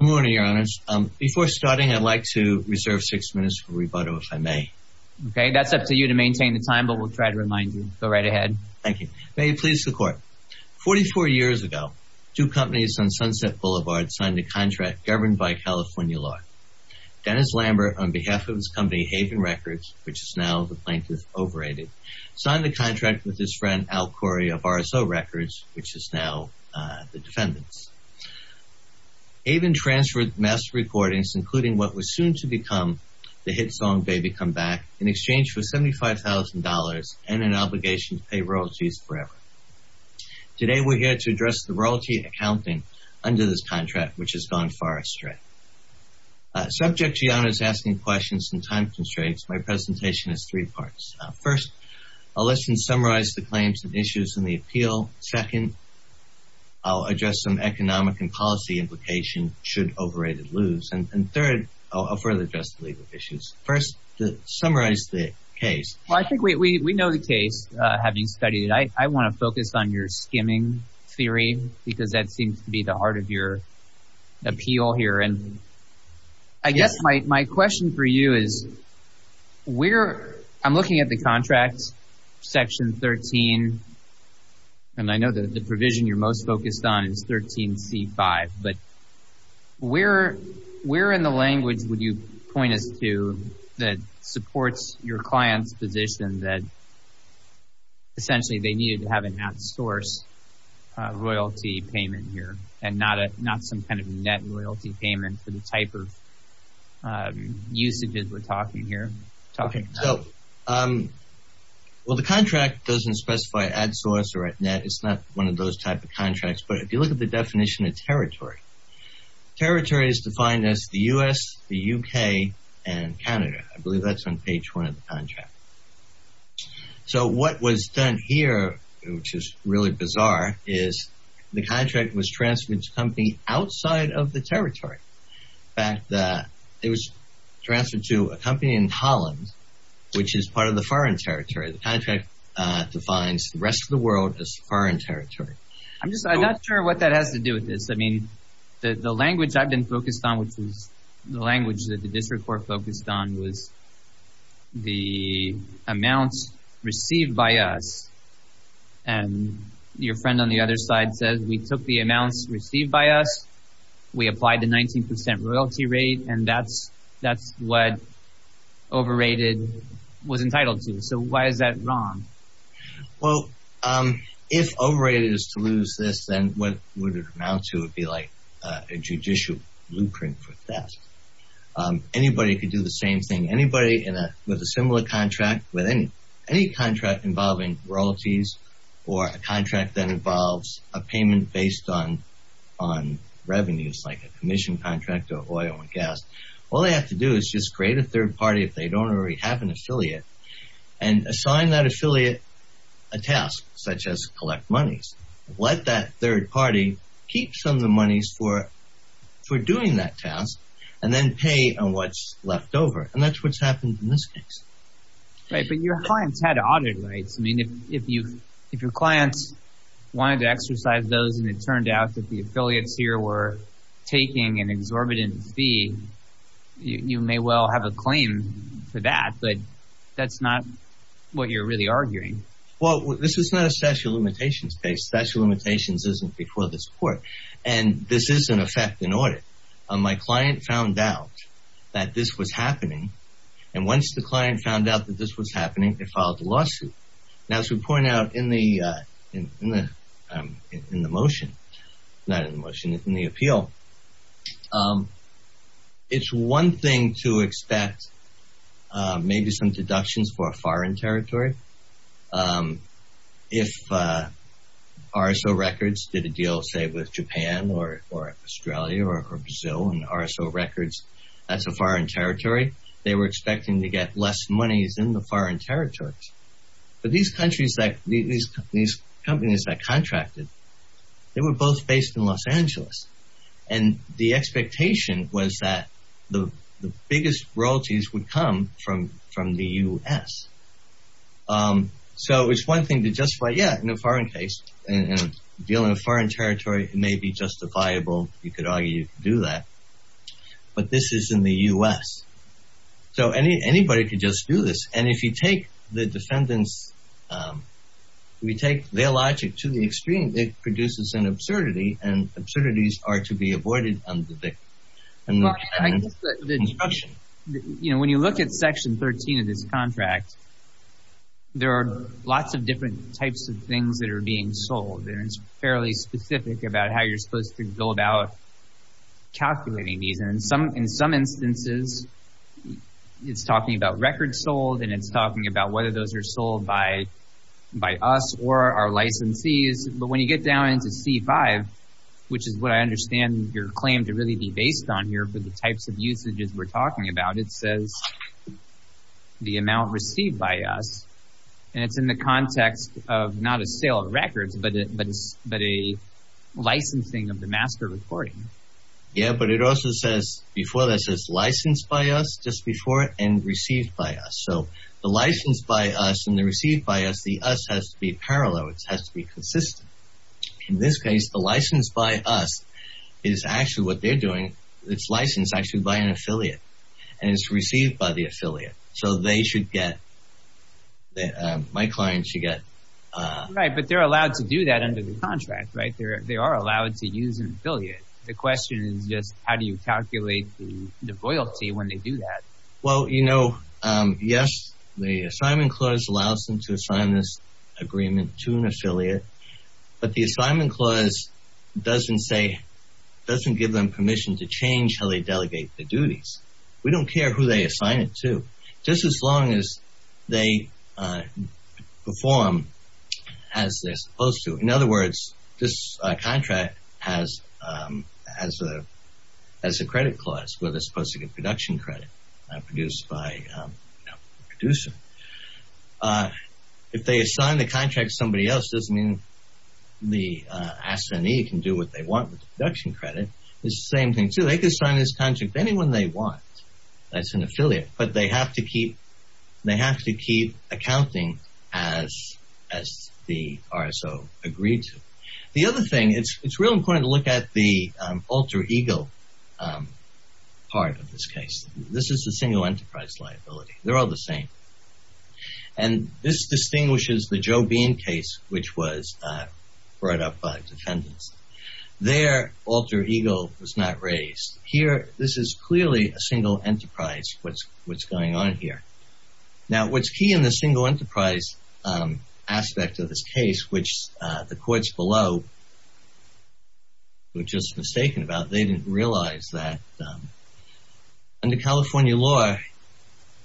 Good morning, your honors. Before starting, I'd like to reserve six minutes for rebuttal, if I may. Okay, that's up to you to maintain the time, but we'll try to remind you. Go right ahead. Thank you. May it please the court. Forty-four years ago, two companies on Sunset Boulevard signed a contract governed by California law. Dennis Lambert, on behalf of his company Haven Records, which is now the Plaintiff Overrated, signed a contract with his friend Al Corey of RSO Records, which is now the Defendant's. Haven transferred mass recordings, including what was soon to become the hit song, Baby Come Back, in exchange for $75,000 and an obligation to pay royalties forever. Today, we're here to address the royalty accounting under this contract, which has gone far astray. Subject to your honors asking questions and time constraints, my presentation is three parts. First, I'll let you summarize the claims and issues in the appeal. Second, I'll address some economic and policy implication should overrated lose. And third, I'll further address the legal issues. First, to summarize the case. Well, I think we know the case, having studied it. I want to focus on your skimming theory because that seems to be the heart of your appeal here. I guess my question for you is, I'm looking at the contract, section 13, and I know that the provision you're most focused on is 13C5, but where in the language would you point us to that supports your client's position that essentially they needed to have an at-source royalty payment here and not some kind of net royalty payment for the type of usages we're talking about? Well, the contract doesn't specify at-source or at-net. It's not one of those type of contracts. But if you look at the definition of territory, territory is defined as the US, the UK, and Canada. I believe that's on page one of the contract. So what was done here, which is really bizarre, is the contract was transferred to a company outside of the territory. In fact, it was transferred to a company in Holland, which is part of the foreign territory. The contract defines the rest of the world as foreign territory. I'm just not sure what that has to do with this. I mean, the language I've been focused on, which is the language that the district court focused on, was the amounts received by us. And your friend on the other side says, we took the amounts received by us, we applied the 19% royalty rate, and that's what overrated was entitled to. So why is that wrong? Well, if overrated is to lose this, then what would it amount to would be like a judicial blueprint for theft. Anybody could do the same thing. Anybody with a similar contract, with any contract involving royalties, or a contract that involves a payment based on revenues, like a commission contract or oil and gas, all they have to do is just create a third party, if they don't already have an affiliate, and assign that affiliate a task, such as collect monies. Let that third party keep some of the monies for doing that task, and then pay on what's left over. And that's what's happened in this case. Right, but your clients had audit rights. I mean, if your clients wanted to exercise those, and it turned out that the affiliates here were taking an exorbitant fee, you may well have a claim for that, but that's not what you're really arguing. Well, this is not a statute of limitations case. Statute of limitations isn't before this court, and this is an effect in audit. My client found out that this was happening, and once the client found out that this was happening, they filed a lawsuit. Now, as we point out in the motion, not in the motion, in the appeal, it's one thing to expect maybe some deductions for a foreign territory. If RSO Records did a deal, say, with Japan or Australia or Brazil, and RSO Records, that's a foreign territory, they were expecting to get less monies in the foreign territories. But these companies that contracted, they were both based in Los Angeles. And the expectation was that the biggest royalties would come from the U.S. So it's one thing to justify, yeah, in a foreign case, and deal in a foreign territory, it may be justifiable. You could argue you could do that. But this is in the U.S. So anybody could just do this. And if you take the defendants, if you take their logic to the extreme, then it produces an absurdity, and absurdities are to be avoided under the construction. When you look at Section 13 of this contract, there are lots of different types of things that are being sold. And it's fairly specific about how you're supposed to go about calculating these. And in some instances, it's talking about records sold, and it's talking about whether those are sold by us or our licensees. But when you get down into C-5, which is what I understand your claim to really be based on here for the types of usages we're talking about, it says the amount received by us. And it's in the context of not a sale of records, but a licensing of the master recording. Yeah, but it also says before that it says licensed by us, just before it, and received by us. So the licensed by us and the received by us, the us has to be parallel. It has to be consistent. In this case, the licensed by us is actually what they're doing. It's licensed actually by an affiliate, and it's received by the affiliate. So they should get, my client should get... Right, but they're allowed to do that under the contract, right? They are allowed to use an affiliate. The question is just how do you calculate the loyalty when they do that? Well, you know, yes, the assignment clause allows them to assign this agreement to an affiliate, but the assignment clause doesn't say, doesn't give them permission to change how they delegate their duties. We don't care who they assign it to, just as long as they perform as they're supposed to. In other words, this contract has a credit clause where they're supposed to get production credit produced by a producer. If they assign the contract to somebody else, it doesn't mean the S&E can do what they want with the production credit. It's the same thing, too. They can assign this contract to anyone they want that's an affiliate, but they have to keep accounting as the RSO agreed to. The other thing, it's real important to look at the alter ego part of this case. This is the single enterprise liability. They're all the same, and this distinguishes the Joe Bean case, which was brought up by defendants. Their alter ego was not raised. Here, this is clearly a single enterprise, what's going on here. Now, what's key in the single enterprise aspect of this case, which the courts below were just mistaken about, they didn't realize that under California law,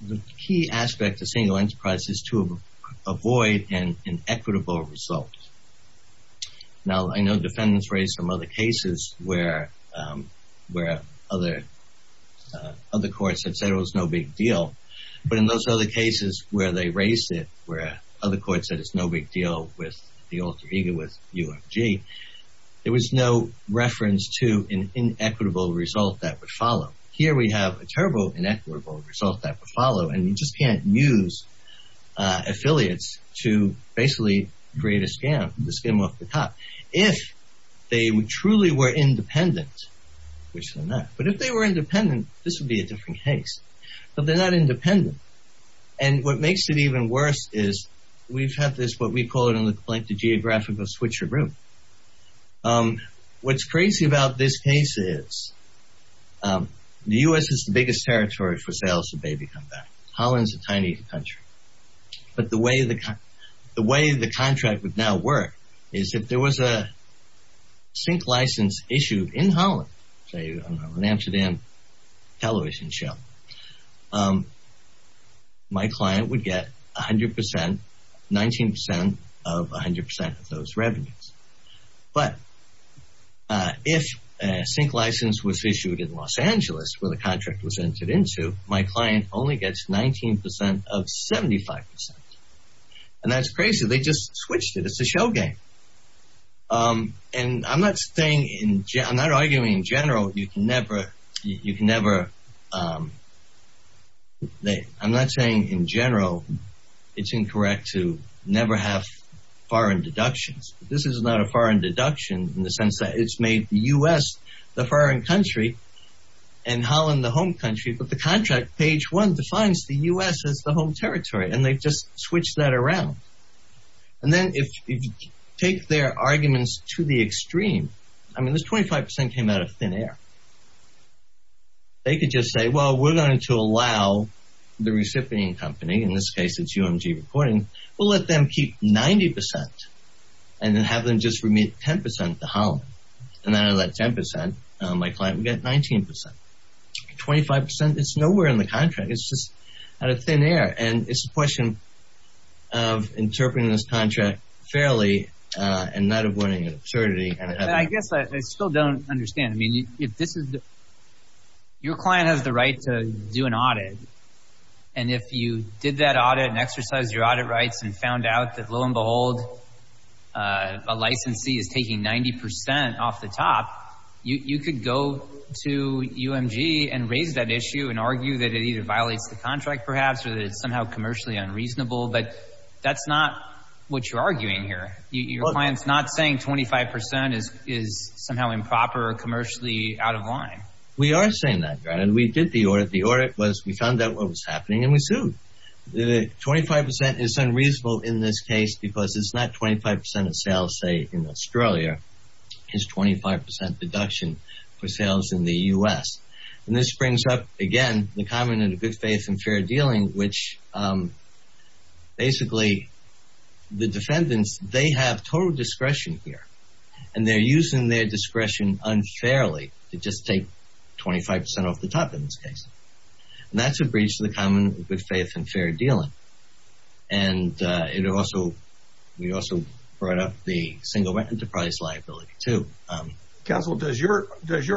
the key aspect of single enterprise is to avoid an inequitable result. Now, I know defendants raised some other cases where other courts have said it was no big deal, but in those other cases where they raised it, where other courts said it's no big deal with the alter ego, with UFG, there was no reference to an inequitable result that would follow. Here, we have a terrible inequitable result that would follow, and you just can't use affiliates to basically create a scam, the scam off the top. If they truly were independent, which they're not, but if they were independent, this would be a different case. But they're not independent, and what makes it even worse is we've had this, what we call it in the blank, the geographical switcheroo. What's crazy about this case is the U.S. is the biggest territory for sales of baby come back. Holland's a tiny country, but the way the contract would now work is if there was a sink license issued in Holland, say on an Amsterdam television show, my client would get 100%, 19% of 100% of those revenues. But if a sink license was issued in Los Angeles, where the contract was entered into, my client only gets 19% of 75%, and that's crazy. They just switched it. It's a show game, and I'm not arguing in general. You can never, I'm not saying in general it's incorrect to never have foreign deductions. This is not a foreign deduction in the sense that it's made the U.S. the foreign country and Holland the home country, but the contract page one defines the U.S. as the home territory, and they've just switched that around. And then if you take their arguments to the extreme, I mean this 25% came out of thin air. They could just say, well, we're going to allow the recipient company, in this case it's UMG Reporting, we'll let them keep 90% and then have them just remit 10% to Holland. And out of that 10%, my client would get 19%. 25%, it's nowhere in the contract. It's just out of thin air, and it's a question of interpreting this contract fairly and not avoiding an absurdity. I guess I still don't understand. Your client has the right to do an audit, and if you did that audit and exercised your audit rights and found out that lo and behold a licensee is taking 90% off the top, you could go to UMG and raise that issue and argue that it either violates the contract perhaps or that it's somehow commercially unreasonable, but that's not what you're arguing here. Your client's not saying 25% is somehow improper or commercially out of line. We are saying that, Grant, and we did the audit. The audit was we found out what was happening and we sued. The 25% is unreasonable in this case because it's not 25% of sales, say, in Australia. It's 25% deduction for sales in the U.S. And this brings up, again, the comment of good faith and fair dealing, which basically the defendants, they have total discretion here, and they're using their discretion unfairly to just take 25% off the top in this case. And that's a breach of the common good faith and fair dealing. And we also brought up the single enterprise liability too. Counsel, does your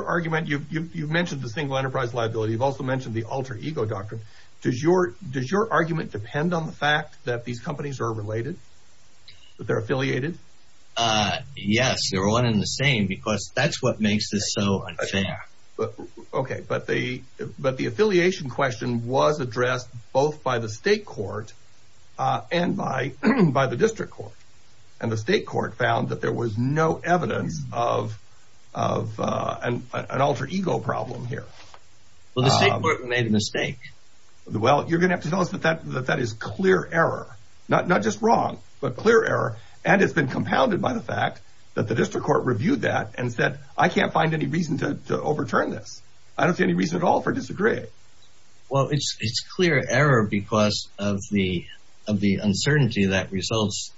argument, you've mentioned the single enterprise liability. You've also mentioned the alter ego doctrine. Does your argument depend on the fact that these companies are related, that they're affiliated? Yes. They're one and the same because that's what makes this so unfair. Okay. But the affiliation question was addressed both by the state court and by the district court. And the state court found that there was no evidence of an alter ego problem here. Well, the state court made a mistake. Well, you're going to have to tell us that that is clear error. Not just wrong, but clear error. And it's been compounded by the fact that the district court reviewed that and said, I can't find any reason to overturn this. I don't see any reason at all for disagreeing. Well, it's clear error because of the uncertainty that results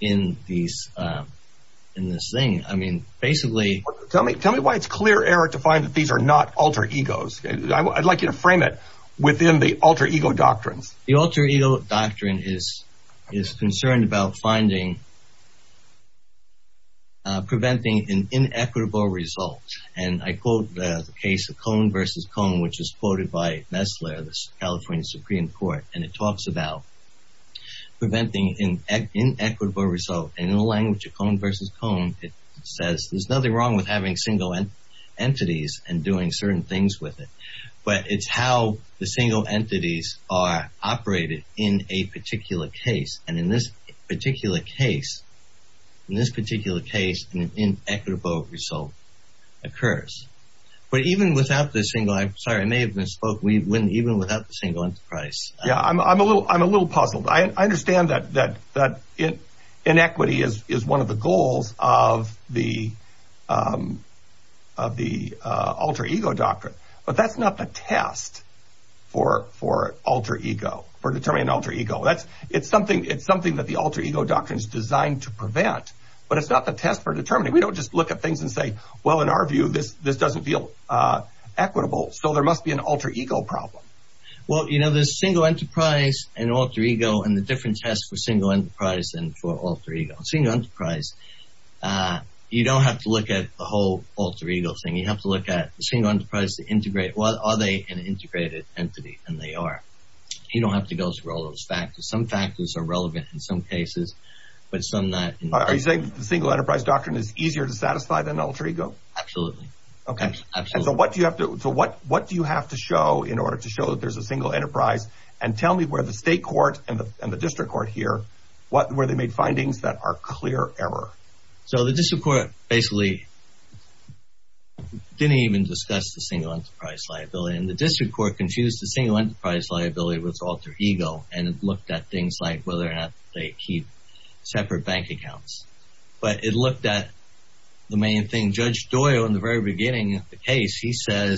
in this thing. I mean, basically. Tell me why it's clear error to find that these are not alter egos. I'd like you to frame it within the alter ego doctrines. The alter ego doctrine is concerned about finding, preventing an inequitable result. And I quote the case of Cohn versus Cohn, which is quoted by Messler, the California Supreme Court. And it talks about preventing an inequitable result. And in the language of Cohn versus Cohn, it says, there's nothing wrong with having single entities and doing certain things with it. But it's how the single entities are operated in a particular case. And in this particular case, an inequitable result occurs. But even without the single, I'm sorry, I may have misspoke. Even without the single enterprise. Yeah, I'm a little puzzled. I understand that inequity is one of the goals of the alter ego doctrine. But that's not the test for alter ego, for determining an alter ego. It's something that the alter ego doctrine is designed to prevent. But it's not the test for determining. We don't just look at things and say, well, in our view, this doesn't feel equitable. So there must be an alter ego problem. Well, you know, there's single enterprise and alter ego and the different tests for single enterprise and for alter ego. Single enterprise, you don't have to look at the whole alter ego thing. You have to look at the single enterprise to integrate. Are they an integrated entity? And they are. You don't have to go through all those factors. Some factors are relevant in some cases, but some not. Are you saying the single enterprise doctrine is easier to satisfy than alter ego? Absolutely. So what do you have to show in order to show that there's a single enterprise? And tell me where the state court and the district court here, where they made findings that are clear error. So the district court basically didn't even discuss the single enterprise liability. And the district court confused the single enterprise liability with alter ego. And it looked at things like whether or not they keep separate bank accounts. But it looked at the main thing. Judge Doyle, in the very beginning of the case, he said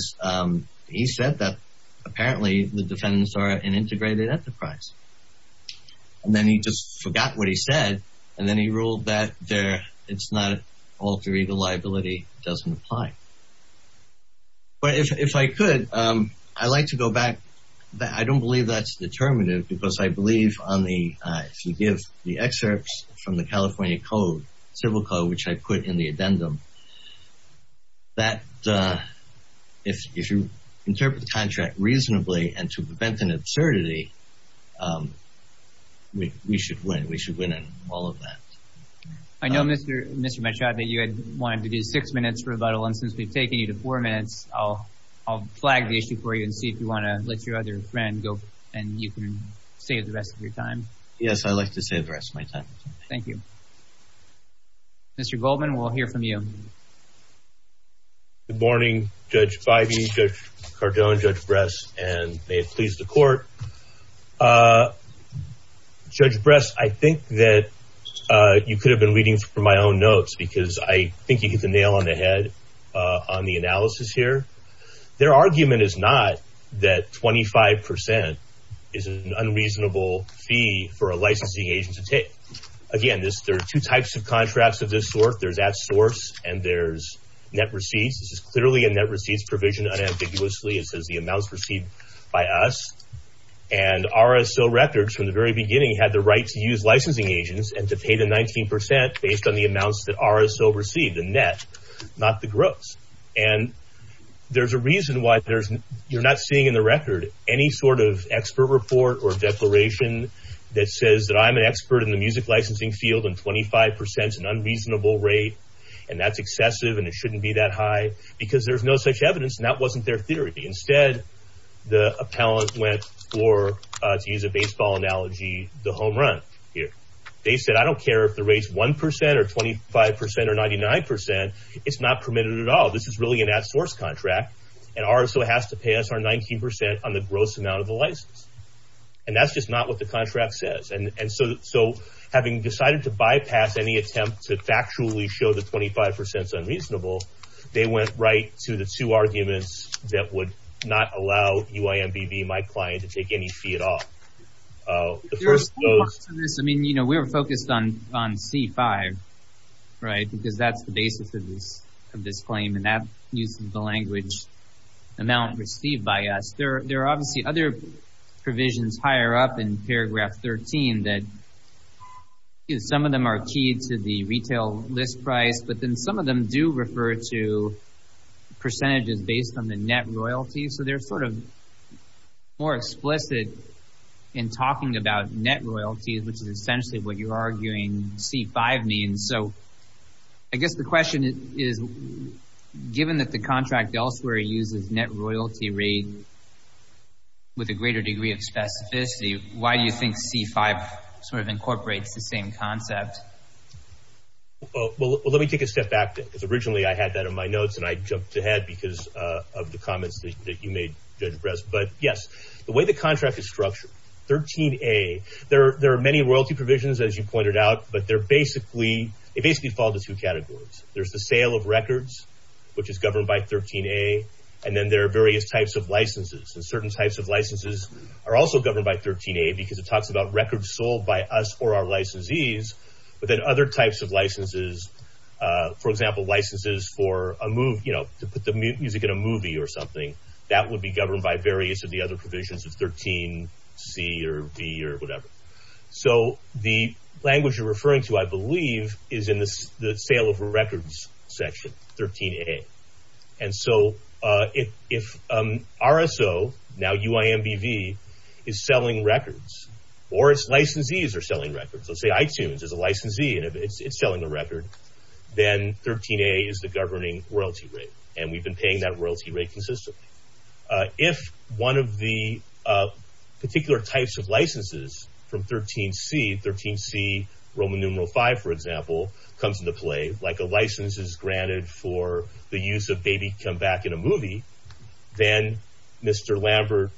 that apparently the defendants are an integrated enterprise. And then he just forgot what he said. And then he ruled that it's not an alter ego liability. It doesn't apply. But if I could, I'd like to go back. I don't believe that's determinative because I believe on the, if you give the excerpts from the California code, civil code, which I put in the addendum, that if you interpret the contract reasonably and to prevent an absurdity, we should win. We should win in all of that. I know, Mr. Machado, you had wanted to do six minutes for rebuttal. And since we've taken you to four minutes, I'll flag the issue for you and see if you want to let your other friend go and you can save the rest of your time. Yes, I'd like to save the rest of my time. Thank you. Mr. Goldman, we'll hear from you. Good morning, Judge Feige, Judge Cardone, Judge Bress, and may it please the court. Judge Bress, I think that you could have been reading from my own notes because I think you hit the nail on the head on the analysis here. Their argument is not that 25% is an unreasonable fee for a licensing agent to take. Again, there are two types of contracts of this sort. There's at source and there's net receipts. This is clearly a net receipts provision unambiguously. It says the amounts received by us. And RSO records from the very beginning had the right to use licensing agents and to pay the 19% based on the amounts that RSO received, the net, not the gross. And there's a reason why you're not seeing in the record any sort of expert report or declaration that says that I'm an expert in the music licensing field and 25% is an unreasonable rate and that's excessive and it shouldn't be that high because there's no such evidence and that wasn't their theory. Instead, the appellant went for, to use a baseball analogy, the home run here. They said I don't care if the rate's 1% or 25% or 99%. It's not permitted at all. This is really an at source contract and RSO has to pay us our 19% on the gross amount of the license. And that's just not what the contract says. And so having decided to bypass any attempt to factually show that 25% is unreasonable, they went right to the two arguments that would not allow UIMBV, my client, to take any fee at all. There's a lot to this. I mean, you know, we were focused on C5, right, because that's the basis of this claim and that uses the language amount received by us. There are obviously other provisions higher up in paragraph 13 that some of them are key to the retail list price, but then some of them do refer to percentages based on the net royalty. So they're sort of more explicit in talking about net royalties, which is essentially what you're arguing C5 means. So I guess the question is, given that the contract elsewhere uses net royalty rate with a greater degree of specificity, why do you think C5 sort of incorporates the same concept? Well, let me take a step back, because originally I had that in my notes and I jumped ahead because of the comments that you made, Judge Bress. But yes, the way the contract is structured, 13A, there are many royalty provisions, as you pointed out, but they basically fall into two categories. There's the sale of records, which is governed by 13A, and then there are various types of licenses, and certain types of licenses are also governed by 13A because it talks about records sold by us or our licensees, but then other types of licenses, for example, licenses to put the music in a movie or something, that would be governed by various of the other provisions of 13C or D or whatever. So the language you're referring to, I believe, is in the sale of records section, 13A. And so if RSO, now UIMBV, is selling records, or its licensees are selling records, let's say iTunes is a licensee and it's selling a record, then 13A is the governing royalty rate, and we've been paying that royalty rate consistently. If one of the particular types of licenses from 13C, 13C Roman numeral V, for example, comes into play, like a license is granted for the use of Baby Come Back in a movie, then Mr. Lambert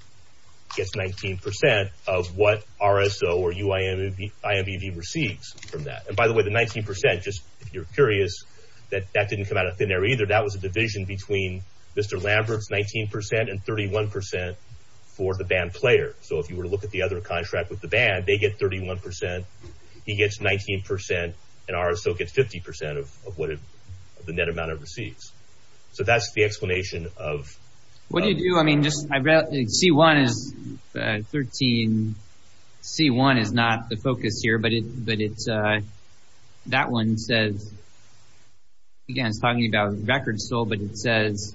gets 19% of what RSO or UIMBV receives from that. And by the way, the 19%, just if you're curious, that didn't come out of thin air either. That was a division between Mr. Lambert's 19% and 31% for the band player. So if you were to look at the other contract with the band, they get 31%, he gets 19%, and RSO gets 50% of what the net amount it receives. So that's the explanation of... What do you do? I mean, just C1 is 13, C1 is not the focus here, but that one says, again, it's talking about record sold, but it says,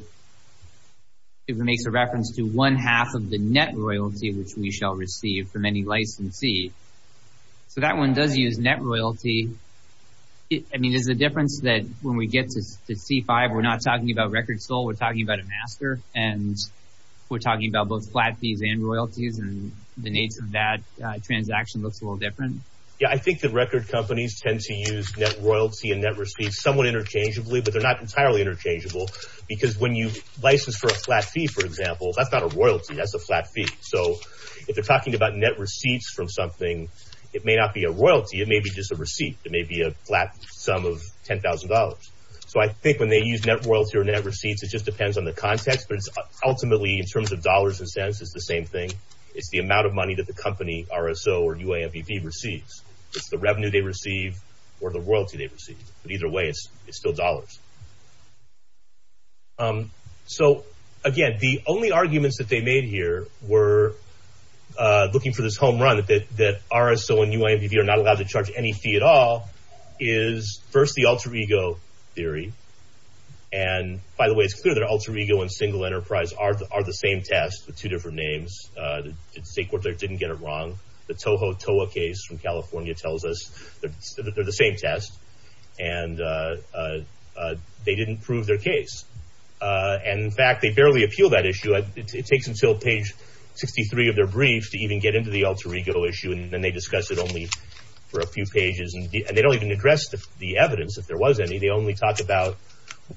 it makes a reference to one half of the net royalty which we shall receive from any licensee. So that one does use net royalty. I mean, is the difference that when we get to C5, we're not talking about record sold, we're talking about a master, and we're talking about both flat fees and royalties, and the nature of that transaction looks a little different? Yeah, I think that record companies tend to use net royalty and net receipts somewhat interchangeably, but they're not entirely interchangeable. Because when you license for a flat fee, for example, that's not a royalty, that's a flat fee. So if they're talking about net receipts from something, it may not be a royalty, it may be just a receipt, it may be a flat sum of $10,000. So I think when they use net royalty or net receipts, it just depends on the context, but ultimately, in terms of dollars and cents, it's the same thing. It's the amount of money that the company, RSO or UAMPB, receives. It's the revenue they receive or the royalty they receive. But either way, it's still dollars. So, again, the only arguments that they made here were looking for this home run, that RSO and UAMPB are not allowed to charge any fee at all, is, first, the alter ego theory. And, by the way, it's clear that alter ego and single enterprise are the same test, with two different names. The state court there didn't get it wrong. The Toho Toa case from California tells us that they're the same test, and they didn't prove their case. And, in fact, they barely appeal that issue. It takes until page 63 of their brief to even get into the alter ego issue, and then they discuss it only for a few pages. And they don't even address the evidence, if there was any. They only talk about,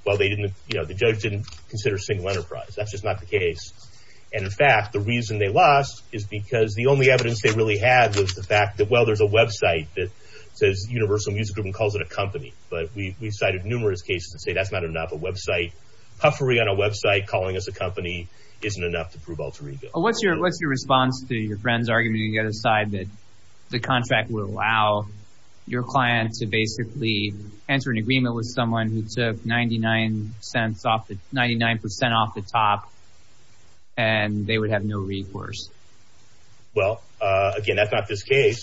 well, the judge didn't consider single enterprise. That's just not the case. And, in fact, the reason they lost is because the only evidence they really had was the fact that, well, there's a website that says Universal Music Group and calls it a company. But we've cited numerous cases that say that's not enough. Puffery on a website calling us a company isn't enough to prove alter ego. What's your response to your friend's argument on the other side, that the contract would allow your client to basically enter an agreement with someone who took 99% off the top, and they would have no recourse? Well, again, that's not this case.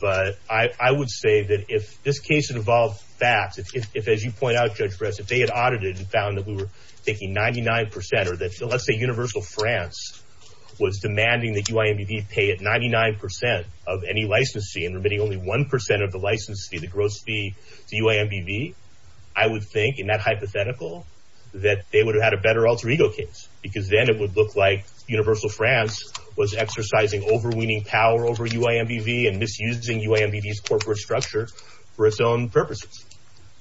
But I would say that if this case involved facts, if, as you point out, Judge Press, if they had audited and found that we were taking 99% or that, let's say, Universal France was demanding that UIMBV pay it 99% of any license fee and remitting only 1% of the license fee, the gross fee to UIMBV, I would think, in that hypothetical, that they would have had a better alter ego case because then it would look like Universal France was exercising overweening power over UIMBV and misusing UIMBV's corporate structure for its own purposes.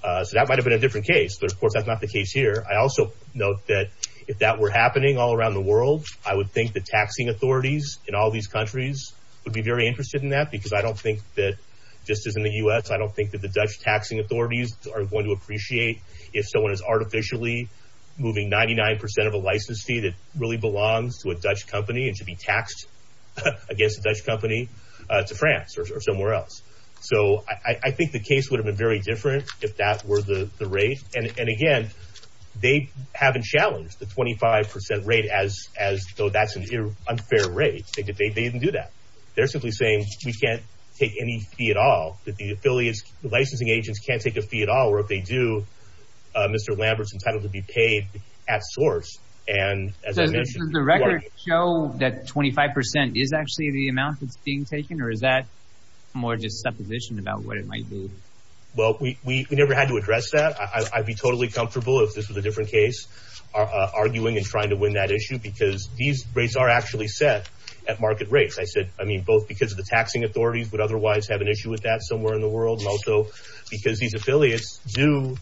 So that might have been a different case, but, of course, that's not the case here. I also note that if that were happening all around the world, I would think the taxing authorities in all these countries would be very interested in that because I don't think that, just as in the U.S., I don't think that the Dutch taxing authorities are going to appreciate if someone is artificially moving 99% of a license fee that really belongs to a Dutch company and should be taxed against a Dutch company to France or somewhere else. So I think the case would have been very different if that were the rate. And, again, they haven't challenged the 25% rate as though that's an unfair rate. They didn't do that. They're simply saying we can't take any fee at all, that the affiliates, the licensing agents can't take a fee at all, or if they do, Mr. Lambert's entitled to be paid at source. And, as I mentioned... Does that show that 25% is actually the amount that's being taken, or is that more just supposition about what it might be? Well, we never had to address that. I'd be totally comfortable if this was a different case, arguing and trying to win that issue because these rates are actually set at market rates. I mean, both because the taxing authorities would otherwise have an issue with that somewhere in the world and also because these affiliates do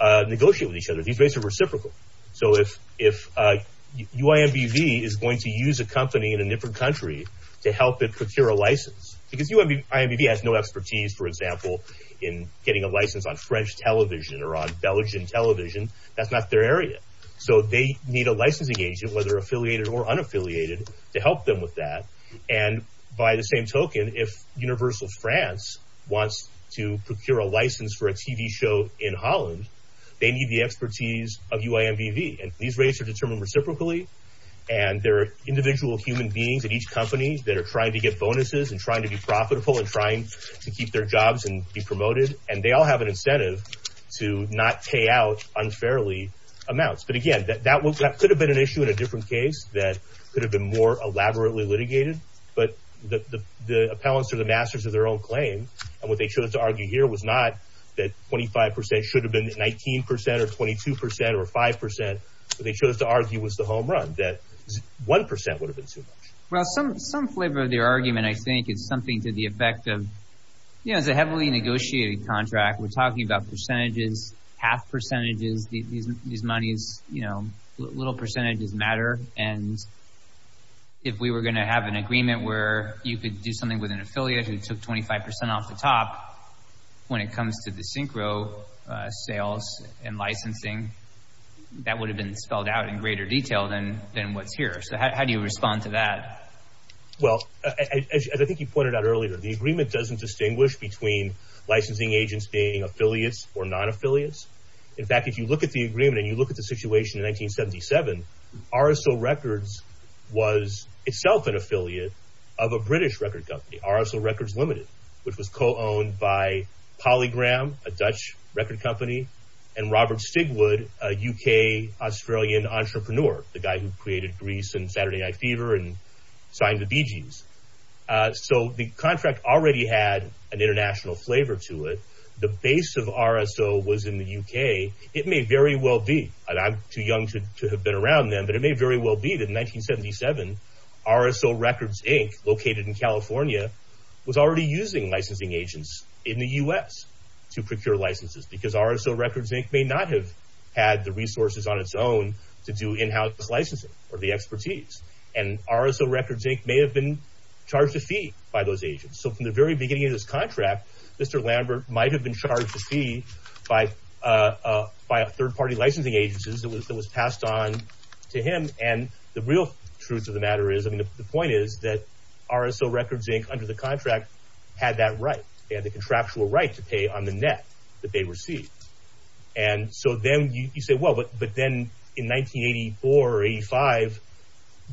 negotiate with each other. These rates are reciprocal. So if UIMBV is going to use a company in a different country to help it procure a license, because UIMBV has no expertise, for example, in getting a license on French television or on Belgian television, that's not their area. So they need a licensing agent, whether affiliated or unaffiliated, to help them with that. And, by the same token, if Universal France wants to procure a license for a TV show in Holland, they need the expertise of UIMBV. And these rates are determined reciprocally, and there are individual human beings at each company that are trying to get bonuses and trying to be profitable and trying to keep their jobs and be promoted, and they all have an incentive to not pay out unfairly amounts. But, again, that could have been an issue in a different case that could have been more elaborately litigated. But the appellants are the masters of their own claim, and what they chose to argue here was not that 25% should have been 19% or 22% or 5%. What they chose to argue was the home run, that 1% would have been too much. Well, some flavor of their argument, I think, is something to the effect of, you know, it's a heavily negotiated contract. We're talking about percentages, half percentages. These monies, you know, little percentages matter. And if we were going to have an agreement where you could do something with an affiliate who took 25% off the top when it comes to the synchro sales and licensing, that would have been spelled out in greater detail than what's here. So how do you respond to that? Well, as I think you pointed out earlier, the agreement doesn't distinguish between licensing agents being affiliates or non-affiliates. In fact, if you look at the agreement and you look at the situation in 1977, RSO Records was itself an affiliate of a British record company. RSO Records Limited, which was co-owned by Polygram, a Dutch record company, and Robert Stigwood, a UK-Australian entrepreneur, the guy who created Grease and Saturday Night Fever and signed the Bee Gees. So the contract already had an international flavor to it. The base of RSO was in the UK. It may very well be, and I'm too young to have been around them, but it may very well be that in 1977, RSO Records, Inc., located in California, was already using licensing agents in the U.S. to procure licenses because RSO Records, Inc. may not have had the resources on its own to do in-house licensing or the expertise. And RSO Records, Inc. may have been charged a fee by those agents. So from the very beginning of this contract, Mr. Lambert might have been charged a fee by third-party licensing agencies that was passed on to him, and the real truth of the matter is, I mean, the point is that RSO Records, Inc., under the contract, had that right. They had the contractual right to pay on the net that they received. And so then you say, well, but then in 1984 or 85,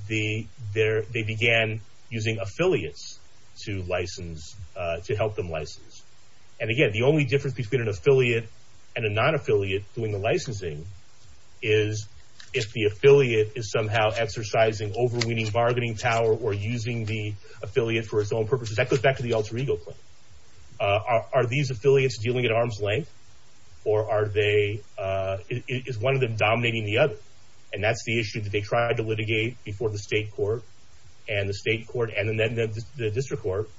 they began using affiliates to license, to help them license. And again, the only difference between an affiliate and a non-affiliate doing the licensing is if the affiliate is somehow exercising overweening bargaining power or using the affiliate for its own purposes. That goes back to the alter ego claim. Are these affiliates dealing at arm's length, or is one of them dominating the other? And that's the issue that they tried to litigate before the state court, and then the district court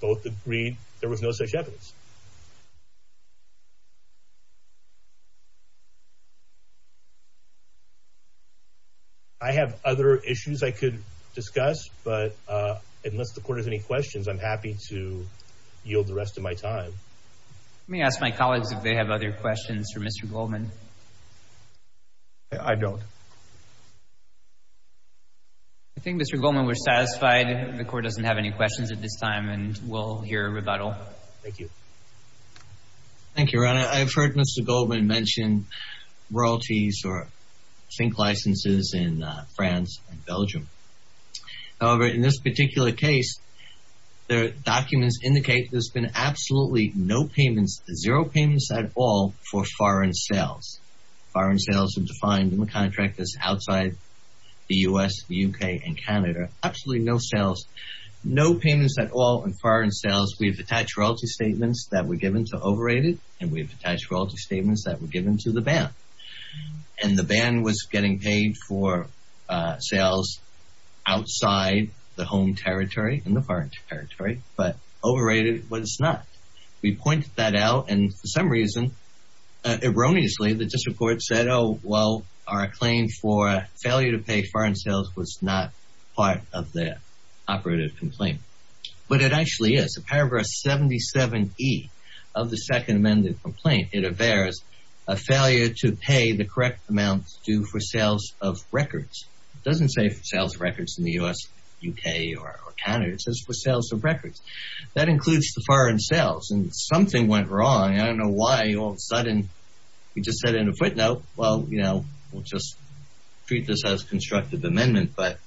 both agreed there was no such evidence. I have other issues I could discuss, but unless the court has any questions, I'm happy to yield the rest of my time. Let me ask my colleagues if they have other questions for Mr. Goldman. I don't. I think Mr. Goldman was satisfied. The court doesn't have any questions at this time, and we'll hear a rebuttal. Thank you. Thank you, Ron. I've heard Mr. Goldman mention royalties or zinc licenses in France and Belgium. However, in this particular case, the documents indicate there's been absolutely no payments, zero payments at all for foreign sales. Foreign sales are defined in the contract that's outside the U.S., the U.K., and Canada. Absolutely no sales, no payments at all in foreign sales. We've attached royalty statements that were given to overrated, and we've attached royalty statements that were given to the ban. And the ban was getting paid for sales outside the home territory and the foreign territory, but overrated was not. We pointed that out, and for some reason, erroneously, the district court said, oh, well, our claim for failure to pay foreign sales was not part of the operative complaint. But it actually is. Paragraph 77E of the second amended complaint, it averts a failure to pay the correct amount due for sales of records. It doesn't say for sales of records in the U.S., U.K., or Canada. It says for sales of records. That includes the foreign sales, and something went wrong. I don't know why all of a sudden we just said in a footnote, well, you know, we'll just treat this as a constructive amendment, but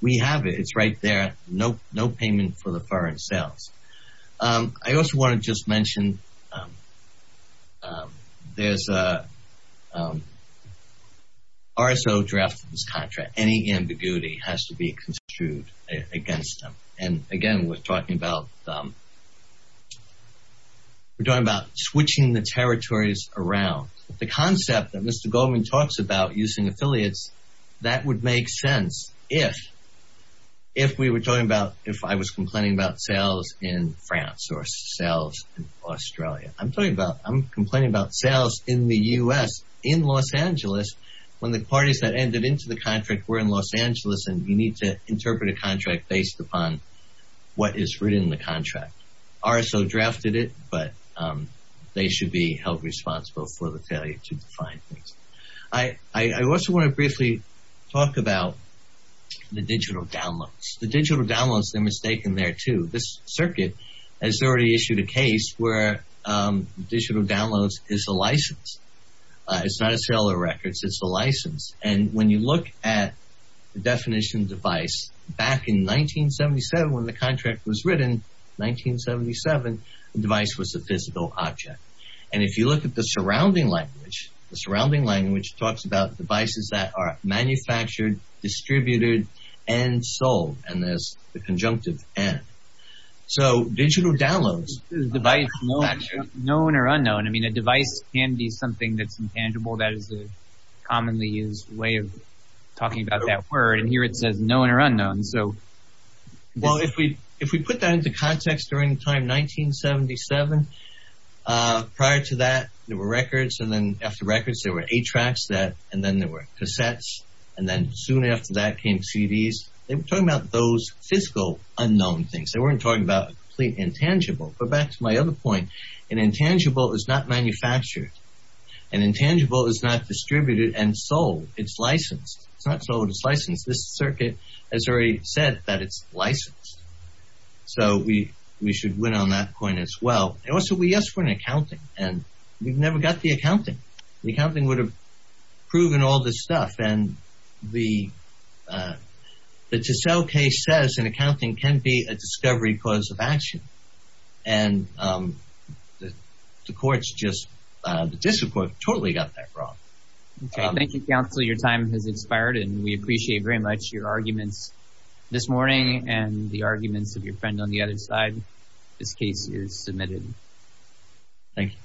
we have it. It's right there. No payment for the foreign sales. I also want to just mention there's a RSO draft of this contract. Any ambiguity has to be construed against them. And, again, we're talking about switching the territories around. The concept that Mr. Goldman talks about using affiliates, that would make sense if we were talking about, if I was complaining about sales in France or sales in Australia. I'm talking about I'm complaining about sales in the U.S. in Los Angeles when the parties that ended into the contract were in Los Angeles, and you need to interpret a contract based upon what is written in the contract. RSO drafted it, but they should be held responsible for the failure to define things. I also want to briefly talk about the digital downloads. The digital downloads, they're mistaken there, too. This circuit has already issued a case where digital downloads is a license. It's not a sale of records. It's a license. And when you look at the definition of device, back in 1977 when the contract was written, 1977, the device was a physical object. And if you look at the surrounding language, the surrounding language talks about devices that are manufactured, distributed, and sold. And there's the conjunctive N. So digital downloads. Device known or unknown. I mean, a device can be something that's intangible. That is a commonly used way of talking about that word. And here it says known or unknown. Well, if we put that into context during the time, 1977, prior to that there were records, and then after records there were A-tracks, and then there were cassettes, and then soon after that came CDs. They were talking about those physical unknown things. They weren't talking about complete intangible. But back to my other point, an intangible is not manufactured. An intangible is not distributed and sold. It's licensed. It's not sold. It's licensed. This circuit has already said that it's licensed. So we should win on that point as well. Also, we asked for an accounting, and we've never got the accounting. The accounting would have proven all this stuff. The Tissell case says an accounting can be a discovery cause of action, and the courts just totally got that wrong. Okay. Thank you, counsel. Your time has expired, and we appreciate very much your arguments this morning and the arguments of your friend on the other side. This case is submitted. Thank you.